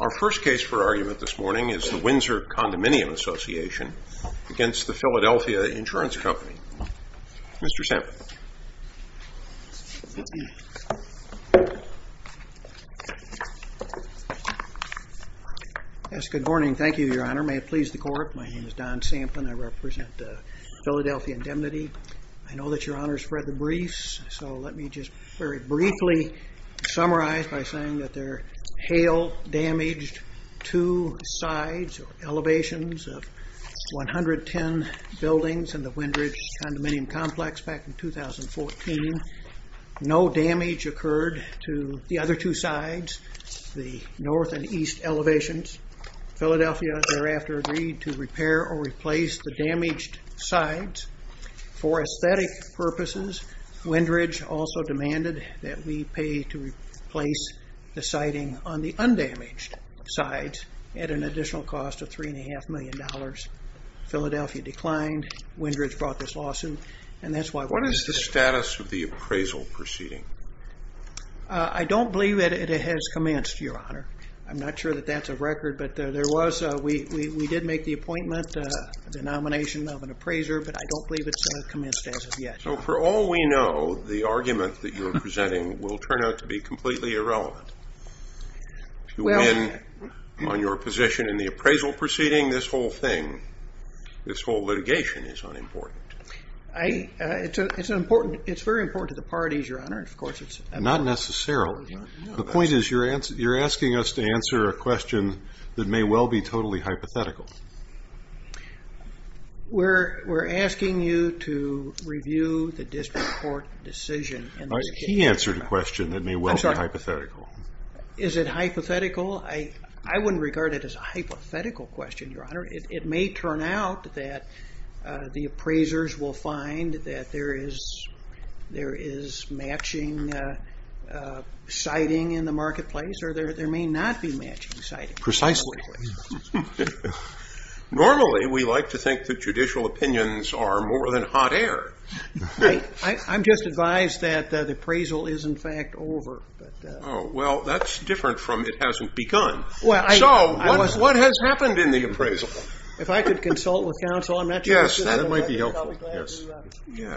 Our first case for argument this morning is the Windsor Condominium Association against the Philadelphia Insurance Company. Mr. Samplin. Yes, good morning. Thank you, Your Honor. May it please the Court. My name is Don Samplin. I represent the Philadelphia Indemnity. I know that Your Honor has read the briefs, so let me just very briefly summarize by saying that there hail damaged two sides or elevations of 110 buildings in the Windridge condominium complex back in 2014. No damage occurred to the other two sides, the north and east elevations. Philadelphia thereafter agreed to repair or repair. Windridge also demanded that we pay to replace the siding on the undamaged sides at an additional cost of $3.5 million. Philadelphia declined. Windridge brought this lawsuit, and that's why we're here today. What is the status of the appraisal proceeding? I don't believe that it has commenced, Your Honor. I'm not sure that that's a record, but there was, we did make the appointment, the nomination of an appraiser, but I don't believe it's commenced as of yet. So for all we know, the argument that you're presenting will turn out to be completely irrelevant. If you win on your position in the appraisal proceeding, this whole thing, this whole litigation is unimportant. It's important, it's very important to the parties, Your Honor, of course. Not necessarily. The point is you're asking us to answer a question that may well be totally hypothetical. We're asking you to review the district court decision. He answered a question that may well be hypothetical. Is it hypothetical? I wouldn't regard it as a hypothetical question, Your Honor. It may turn out that the appraisers will find that there is matching siding in the marketplace, or there may not be matching siding in the marketplace. Normally, we like to think that judicial opinions are more than hot air. I'm just advised that the appraisal is, in fact, over. Oh, well, that's different from it hasn't begun. So, what has happened in the appraisal? If I could consult with counsel, I'm not sure I should have a record, but I'll be glad to hear back, because this is open to all trial, and open to the public's questions.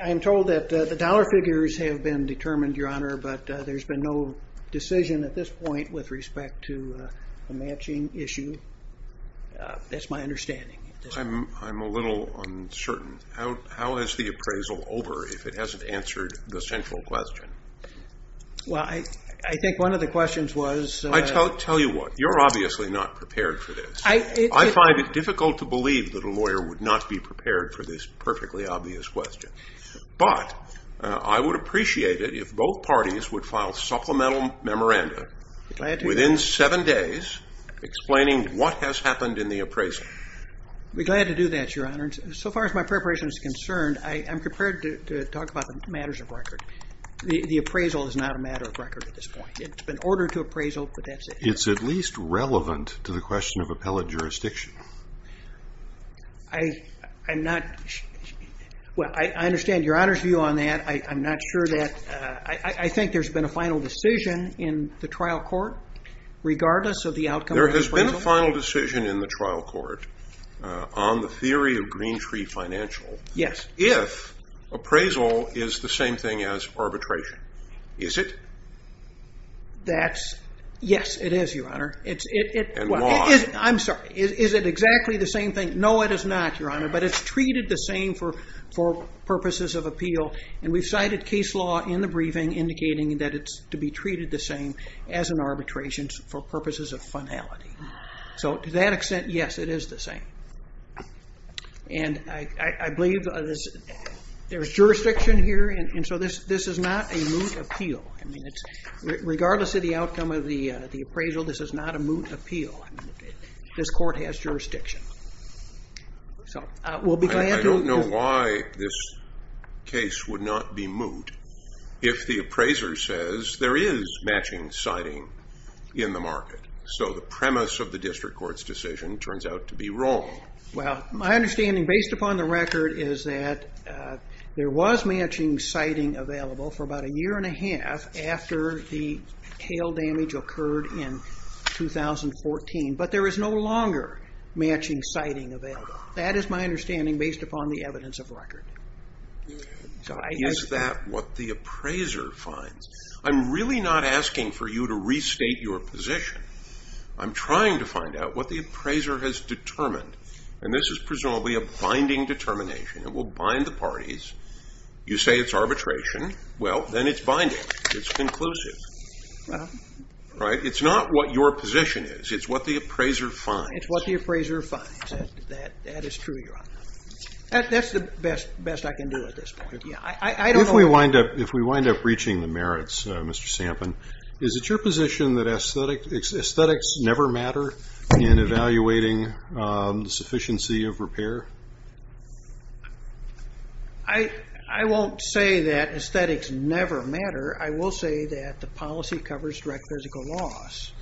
I'm told that the dollar figures have been determined, Your Honor, but there's been no decision at this point with respect to the matching issue. That's my understanding. I'm a little uncertain. How is the appraisal over if it hasn't answered the central question? Well, I think one of the questions was... I'll tell you what. You're obviously not prepared for this. I find it difficult to believe that a lawyer would not be prepared for this perfectly obvious question. But I would appreciate it if both parties would file supplemental memoranda within seven days explaining what has happened in the appraisal. I'd be glad to do that, Your Honor. So far as my preparation is concerned, I'm prepared to talk about matters of record. The appraisal is not a matter of record at this point. It's been ordered to appraisal, but that's it. It's at least relevant to the question of appellate jurisdiction. I'm not... Well, I understand Your Honor's view on that. I'm not sure that... I think there's been a final decision in the trial court regardless of the outcome of the appraisal. There has been a final decision in the trial court on the theory of Green Tree Financial if appraisal is the same thing as arbitration. Is it? That's... Yes, it is, Your Honor. It's... And why? I'm sorry. Is it exactly the same thing? No, it is not, Your Honor. But it's treated the same for purposes of appeal. And we've cited case law in the briefing indicating that it's to be treated the same as an arbitration for purposes of finality. So to that extent, yes, it is the same. And I believe there's jurisdiction here, and so this is not a moot appeal, regardless of the outcome of the appraisal. This is not a moot appeal. This court has jurisdiction. So we'll be glad to... I don't know why this case would not be moot if the appraiser says there is matching citing in the market. So the premise of the district court's decision turns out to be wrong. Well, my understanding based upon the record is that there was matching citing available for about a year and a half after the tail damage occurred in 2014, but there is no longer matching citing available. That is my understanding based upon the evidence of record. Is that what the appraiser finds? I'm really not asking for you to restate your position. I'm trying to find out what the appraiser has determined, and this is presumably a binding determination. It will bind the parties. You say it's arbitration. Well, then it's binding. It's conclusive. Right? It's not what your position is. It's what the appraiser finds. It's what the appraiser finds. That is true, Your Honor. That's the best I can do at this point. Yeah. I don't know... If we wind up reaching the merits, Mr. Sampin, is it your position that aesthetics never matter in evaluating the sufficiency of repair? I won't say that aesthetics never matter. I will say that the policy covers direct physical loss.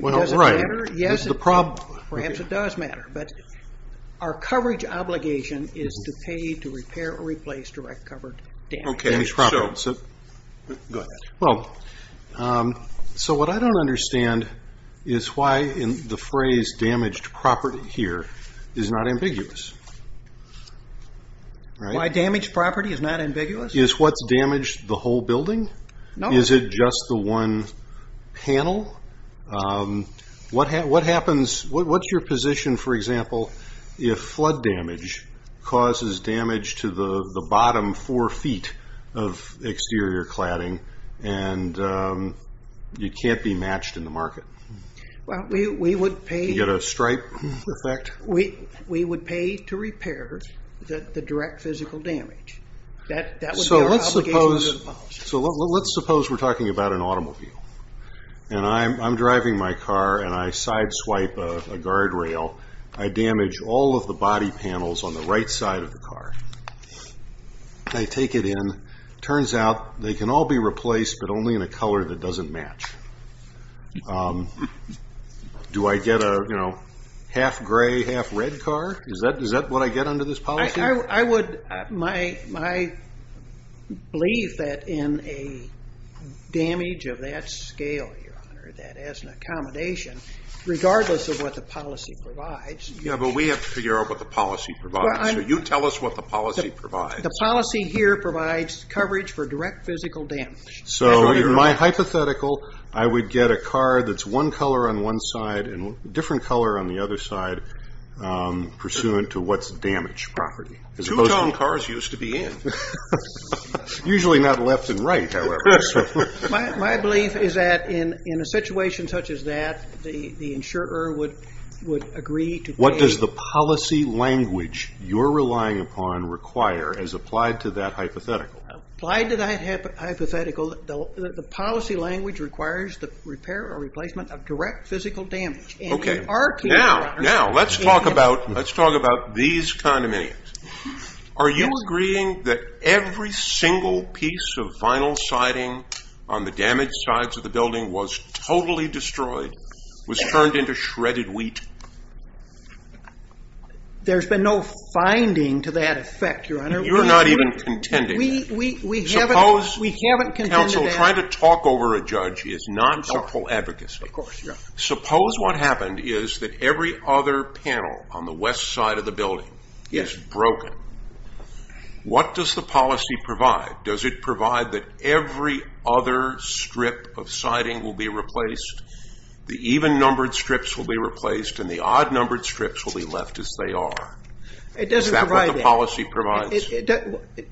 Well, right. Does it matter? Yes. Perhaps it does matter, but our coverage obligation is to pay to repair or replace direct covered damage. Okay. So... Go ahead. Well, so what I don't understand is why the phrase damaged property here is not ambiguous. Why damaged property is not ambiguous? Is what's damaged the whole building? No. Is it just the one panel? What happens... What's your position, for example, if flood damage causes damage to the bottom four feet of exterior cladding and you can't be matched in the market? Well, we would pay... You get a stripe effect? We would pay to repair the direct physical damage. That would be our obligation to the policy. So let's suppose we're talking about an automobile and I'm driving my car and I sideswipe a guard rail. I damage all of the body panels on the right side of the car. I take it in. Turns out they can all be replaced, but only in a color that doesn't match. Do I get a half gray, half red car? Is that what I get under this policy? I would... My belief that in a damage of that scale, Your Honor, that as an accommodation, regardless of what the policy provides... Yeah, but we have to figure out what the policy provides. So you tell us what the policy provides. The policy here provides coverage for direct physical damage. So in my hypothetical, I would get a car that's one color on one side and a different color on the other side pursuant to what's damage property. Two-tone cars used to be in. Usually not left and right, however. My belief is that in a situation such as that, the insurer would agree to pay... What you're relying upon require as applied to that hypothetical. Applied to that hypothetical, the policy language requires the repair or replacement of direct physical damage. Okay. Now, let's talk about these condominiums. Are you agreeing that every single piece of vinyl siding on the damaged sides of the building was totally destroyed, was turned into shredded wheat? There's been no finding to that effect, Your Honor. You're not even contending. We haven't contended that. Council, trying to talk over a judge is not helpful advocacy. Of course, Your Honor. Suppose what happened is that every other panel on the west side of the building is broken. What does the policy provide? Does it provide that every other strip of siding will be replaced? The even-numbered strips will be replaced and the odd-numbered strips will be left as they are. It doesn't provide that. Is that what the policy provides?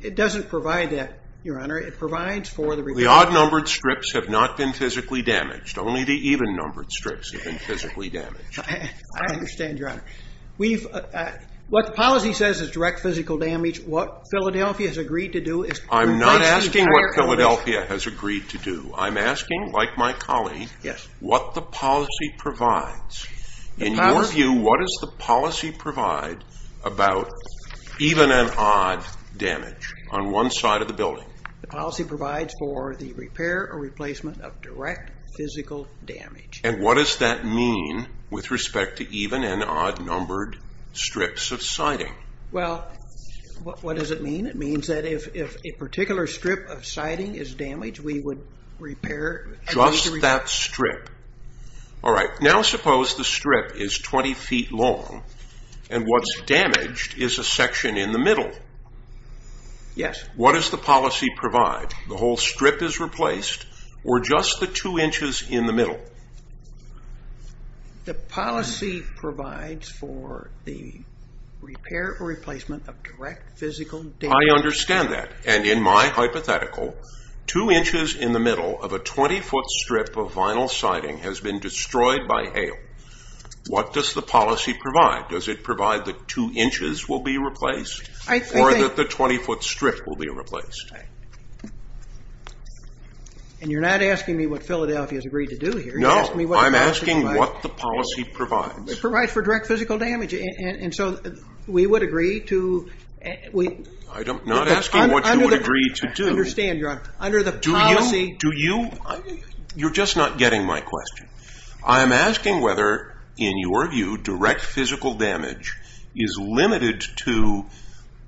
It doesn't provide that, Your Honor. It provides for the repair... The odd-numbered strips have not been physically damaged. Only the even-numbered strips have been physically damaged. I understand, Your Honor. What the policy says is direct physical damage. What Philadelphia has agreed to do is... I'm not asking what Philadelphia has agreed to do. I'm asking, like my colleague, what the policy provides. In your view, what does the policy provide about even and odd damage on one side of the building? The policy provides for the repair or replacement of direct physical damage. And what does that mean with respect to even and odd-numbered strips of siding? Well, what does it mean? It means that if a particular strip of siding is damaged, we would repair... Just that strip. All right. Now suppose the strip is 20 feet long and what's damaged is a section in the middle. Yes. What does the policy provide? The policy provides for the repair or replacement of direct physical damage. I understand that. And in my hypothetical, 2 inches in the middle of a 20-foot strip of vinyl siding has been destroyed by hail. What does the policy provide? Does it provide that 2 inches will be replaced or that the 20-foot strip will be replaced? And you're not asking me what Philadelphia has agreed to do here. No, I'm asking what the policy provides. It provides for direct physical damage. And so we would agree to... I'm not asking what you would agree to do. I understand, Your Honor. Under the policy... Do you? You're just not getting my question. I am asking whether, in your view, direct physical damage is limited to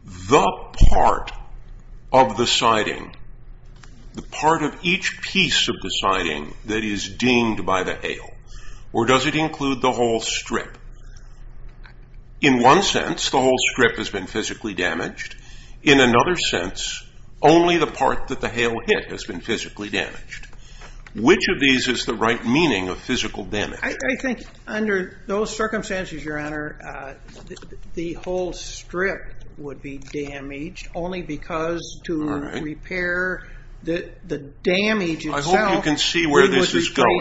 the part of the siding, the part of each piece of the siding that is dinged by the hail, or does it include the whole strip? In one sense, the whole strip has been physically damaged. In another sense, only the part that the hail hit has been physically damaged. Which of these is the right meaning of physical damage? I think under those circumstances, Your Honor, the whole strip would be damaged only because to repair the damage itself... I hope you can see where this is going.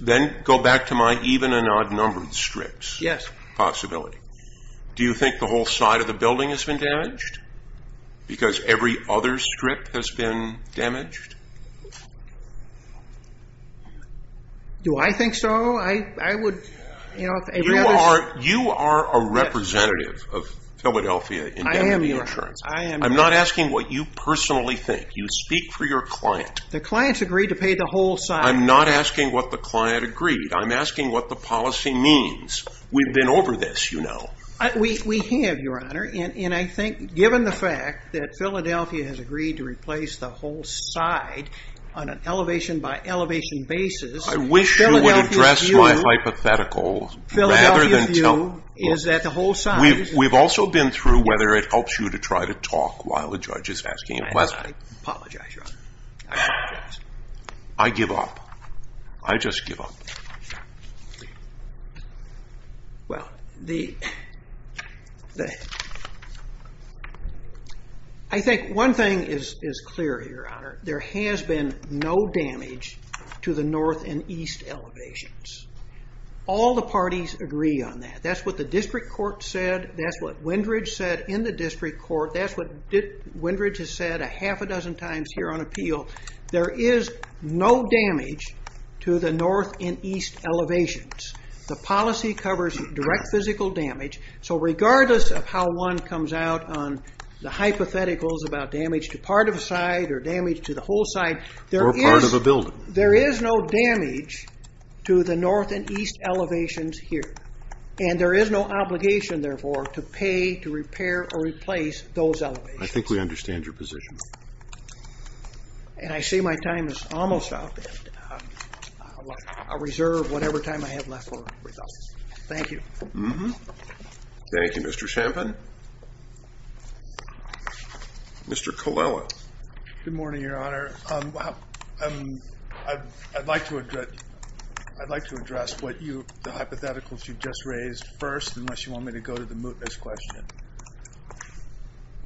Then go back to my even-and-odd-numbered strips possibility. Do you think the whole side of the building has been damaged because every other strip has been damaged? Do I think so? I would rather... You are a representative of Philadelphia in the insurance. I am, Your Honor. I'm not asking what you personally think. You speak for your client. The clients agreed to pay the whole side. I'm not asking what the client agreed. I'm asking what the policy means. We've been over this, you know. We have, Your Honor. And I think given the fact that Philadelphia has agreed to replace the whole side on an elevation-by-elevation basis... I wish you would address my hypothetical rather than tell... Philadelphia's view is that the whole side... We've also been through whether it helps you to try to talk while the judge is asking a question. I apologize, Your Honor. I apologize. I give up. I just give up. Well, the... I think one thing is clear, Your Honor. There has been no damage to the north and east elevations. All the parties agree on that. That's what the district court said. That's what Windridge said in the district court. That's what Windridge has said a half a dozen times here on appeal. There is no damage to the north and east elevations. The policy covers direct physical damage. So regardless of how one comes out on the hypotheticals about damage to part of a side or damage to the whole side... Or part of a building. There is no damage to the north and east elevations here. And there is no obligation, therefore, to pay to repair or replace those elevations. I think we understand your position. And I see my time is almost up. I'll reserve whatever time I have left over. Thank you. Thank you, Mr. Champin. Mr. Colella. Good morning, Your Honor. I'd like to address what you, the hypotheticals you just raised first, unless you want me to go to the mootness question.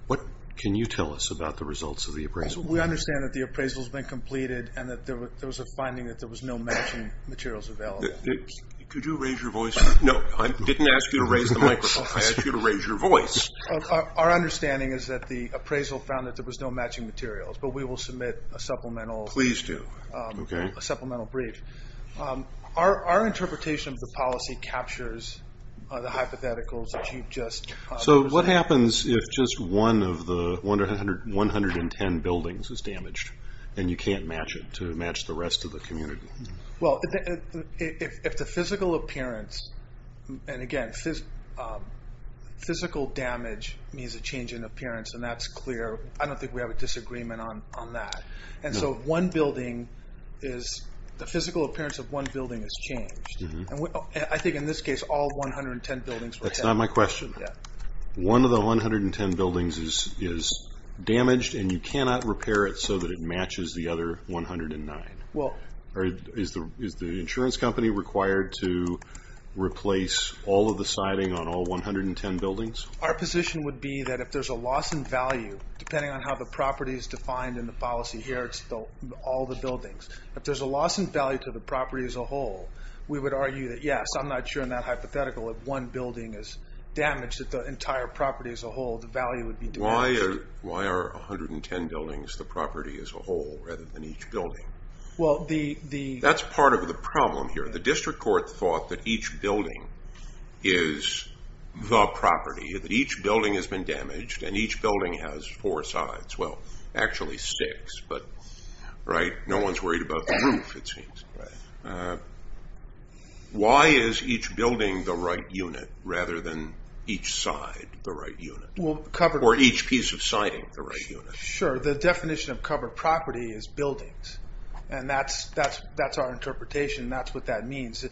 What can you tell us about the results of the appraisal? We understand that the appraisal has been completed and that there was a finding that there was no matching materials available. Could you raise your voice? No, I didn't ask you to raise the microphone. I asked you to raise your voice. Our understanding is that the appraisal found that there was no matching materials. But we will submit a supplemental... Please do. A supplemental brief. Our interpretation of the policy captures the hypotheticals that you just... So what happens if just one of the 110 buildings is damaged and you can't match it to match the rest of the community? Well, if the physical appearance, and again, physical damage means a change in appearance, and that's clear. I don't think we have a disagreement on that. And so one building is, the physical appearance of one building is changed. I think in this case, all 110 buildings were hit. That's not my question. One of the 110 buildings is damaged and you cannot repair it so that it matches the other 109. Is the insurance company required to replace all of the siding on all 110 buildings? Our position would be that if there's a loss in value, depending on how the property is defined in the policy here, it's all the buildings. If there's a loss in value to the property as a whole, we would argue that yes, I'm not sure in that hypothetical if one building is damaged, that the entire property as a whole, the value would be diminished. Why are 110 buildings the property as a whole rather than each building? Well, the... That's part of the problem here. The district court thought that each building is the property, that each building has been damaged, and each building has four sides. Well, actually six, but no one's worried about the roof, it seems. Why is each building the right unit rather than each side the right unit? Or each piece of siding the right unit? Sure, the definition of covered property is buildings. And that's our interpretation. That's what that means.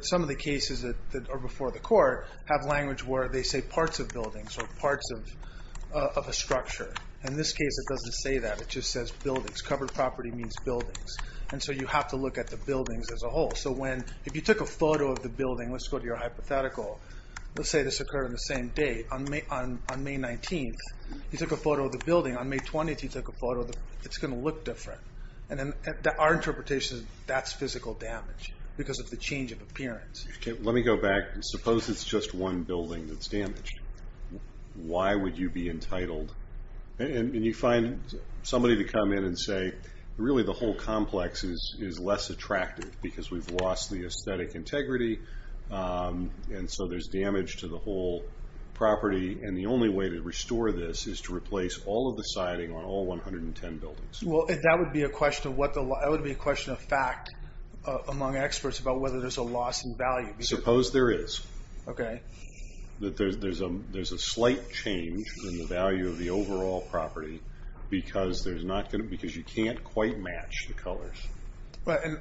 Some of the cases that are before the court have language where they say parts of buildings or parts of a structure. In this case, it doesn't say that. It just says buildings. Covered property means buildings. And so you have to look at the buildings as a whole. So if you took a photo of the building, let's go to your hypothetical. Let's say this occurred on the same day. On May 19th, you took a photo of the building. On May 20th, you took a photo. It's going to look different. And our interpretation is that's physical damage because of the change of appearance. Let me go back. Suppose it's just one building that's damaged. Why would you be entitled? And you find somebody to come in and say, really, the whole complex is less attractive because we've lost the aesthetic integrity. And so there's damage to the whole property. And the only way to restore this is to replace all of the siding on all 110 buildings. Well, that would be a question of fact among experts about whether there's a loss in value. Suppose there is. Okay. That there's a slight change in the value of the overall property because you can't quite match the colors.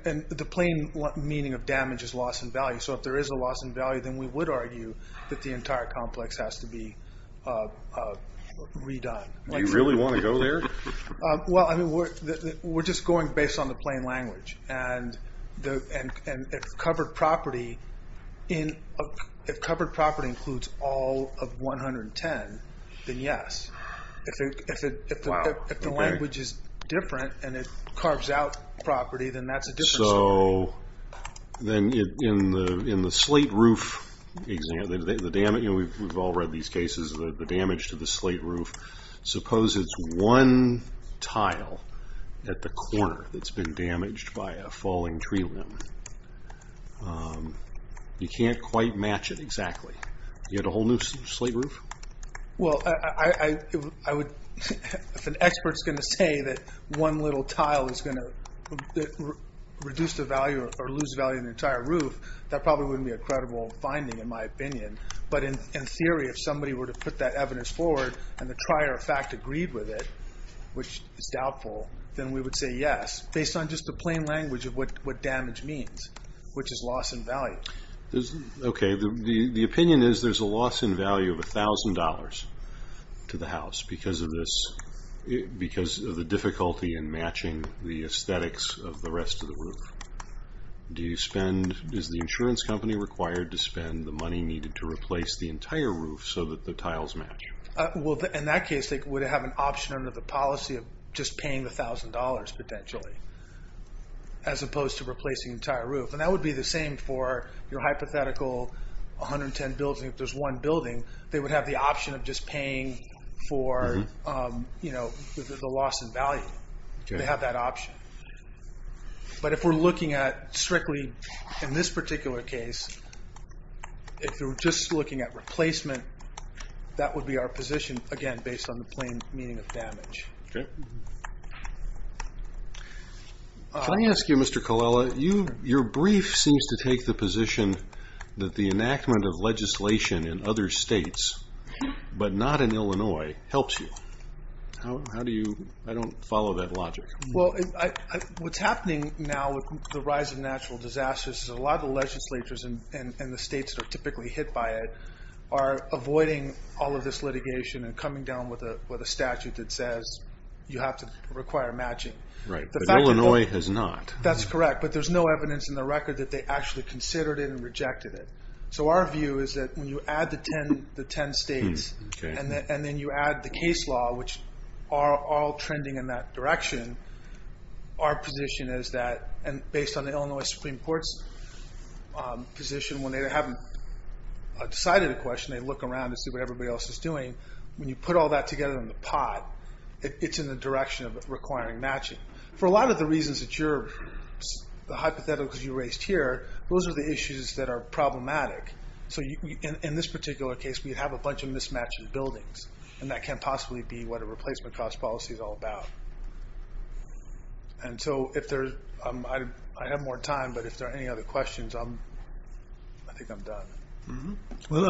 And the plain meaning of damage is loss in value. So if there is a loss in value, then we would argue that the entire complex has to be redone. Do you really want to go there? Well, I mean, we're just going based on the plain language. And if covered property includes all of 110, then yes. If the language is different and it carves out property, then that's a different story. So then in the slate roof example, we've all read these cases of the damage to the slate roof. Suppose it's one tile at the corner that's been damaged by a falling tree limb. You can't quite match it exactly. You had a whole new slate roof? Well, if an expert is going to say that one little tile is going to reduce the value or lose value in the entire roof, that probably wouldn't be a credible finding, in my opinion. But in theory, if somebody were to put that evidence forward and the trier of fact agreed with it, which is doubtful, then we would say yes, based on just the plain language of what damage means, which is loss in value. Okay. The opinion is there's a loss in value of $1,000 to the house because of the difficulty in matching the aesthetics of the rest of the roof. Is the insurance company required to spend the money needed to replace the entire roof so that the tiles match? Well, in that case, they would have an option under the policy of just paying the $1,000, potentially, as opposed to replacing the entire roof. And that would be the same for your hypothetical 110 buildings. If there's one building, they would have the option of just paying for the loss in value. They have that option. But if we're looking at strictly in this particular case, if we're just looking at replacement, that would be our position, again, based on the plain meaning of damage. Okay. Can I ask you, Mr. Colella, your brief seems to take the position that the enactment of legislation in other states, but not in Illinois, helps you. How do you – I don't follow that logic. Well, what's happening now with the rise of natural disasters is a lot of the legislatures and the states that are typically hit by it are avoiding all of this litigation and coming down with a statute that says you have to require matching. Right. But Illinois has not. That's correct. But there's no evidence in the record that they actually considered it and rejected it. So our view is that when you add the 10 states and then you add the case law, which are all trending in that direction, our position is that, and based on the Illinois Supreme Court's position, when they haven't decided a question, they look around and see what everybody else is doing. When you put all that together in the pot, it's in the direction of requiring matching. For a lot of the reasons that you're – the hypotheticals you raised here, those are the issues that are problematic. So in this particular case, we have a bunch of mismatched buildings, and that can't possibly be what a replacement cost policy is all about. And so if there's – I have more time, but if there are any other questions, I think I'm done. Well,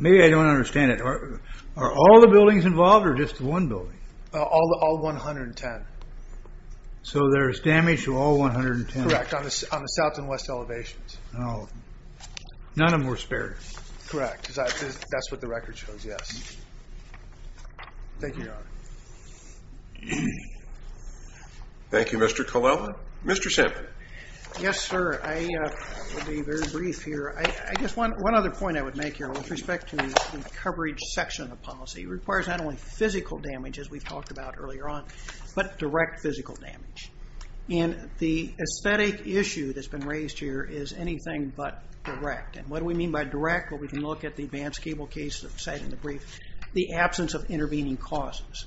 maybe I don't understand it. Are all the buildings involved or just one building? All 110. So there's damage to all 110. Correct, on the south and west elevations. None of them were spared. Correct, because that's what the record shows, yes. Thank you, Your Honor. Thank you, Mr. Colella. Mr. Semple. Yes, sir. I'll be very brief here. I guess one other point I would make here with respect to the coverage section of the policy. It requires not only physical damage, as we've talked about earlier on, but direct physical damage. And the aesthetic issue that's been raised here is anything but direct. And what do we mean by direct? Well, we can look at the advance cable case that was cited in the brief, the absence of intervening causes.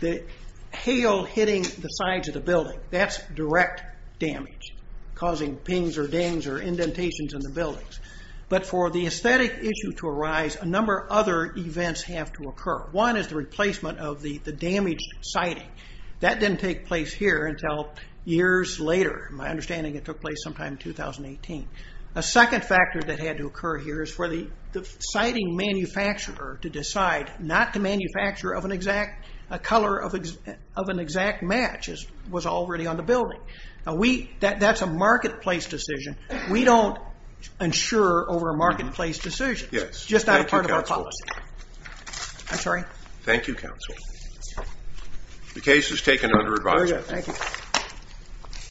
The hail hitting the sides of the building, that's direct damage, causing pings or dings or indentations in the buildings. But for the aesthetic issue to arise, a number of other events have to occur. One is the replacement of the damaged siding. That didn't take place here until years later. My understanding, it took place sometime in 2018. A second factor that had to occur here is for the siding manufacturer to decide not to manufacture a color of an exact match that was already on the building. That's a marketplace decision. We don't insure over a marketplace decision. It's just not a part of our policy. I'm sorry? Thank you, counsel. The case is taken under advisory.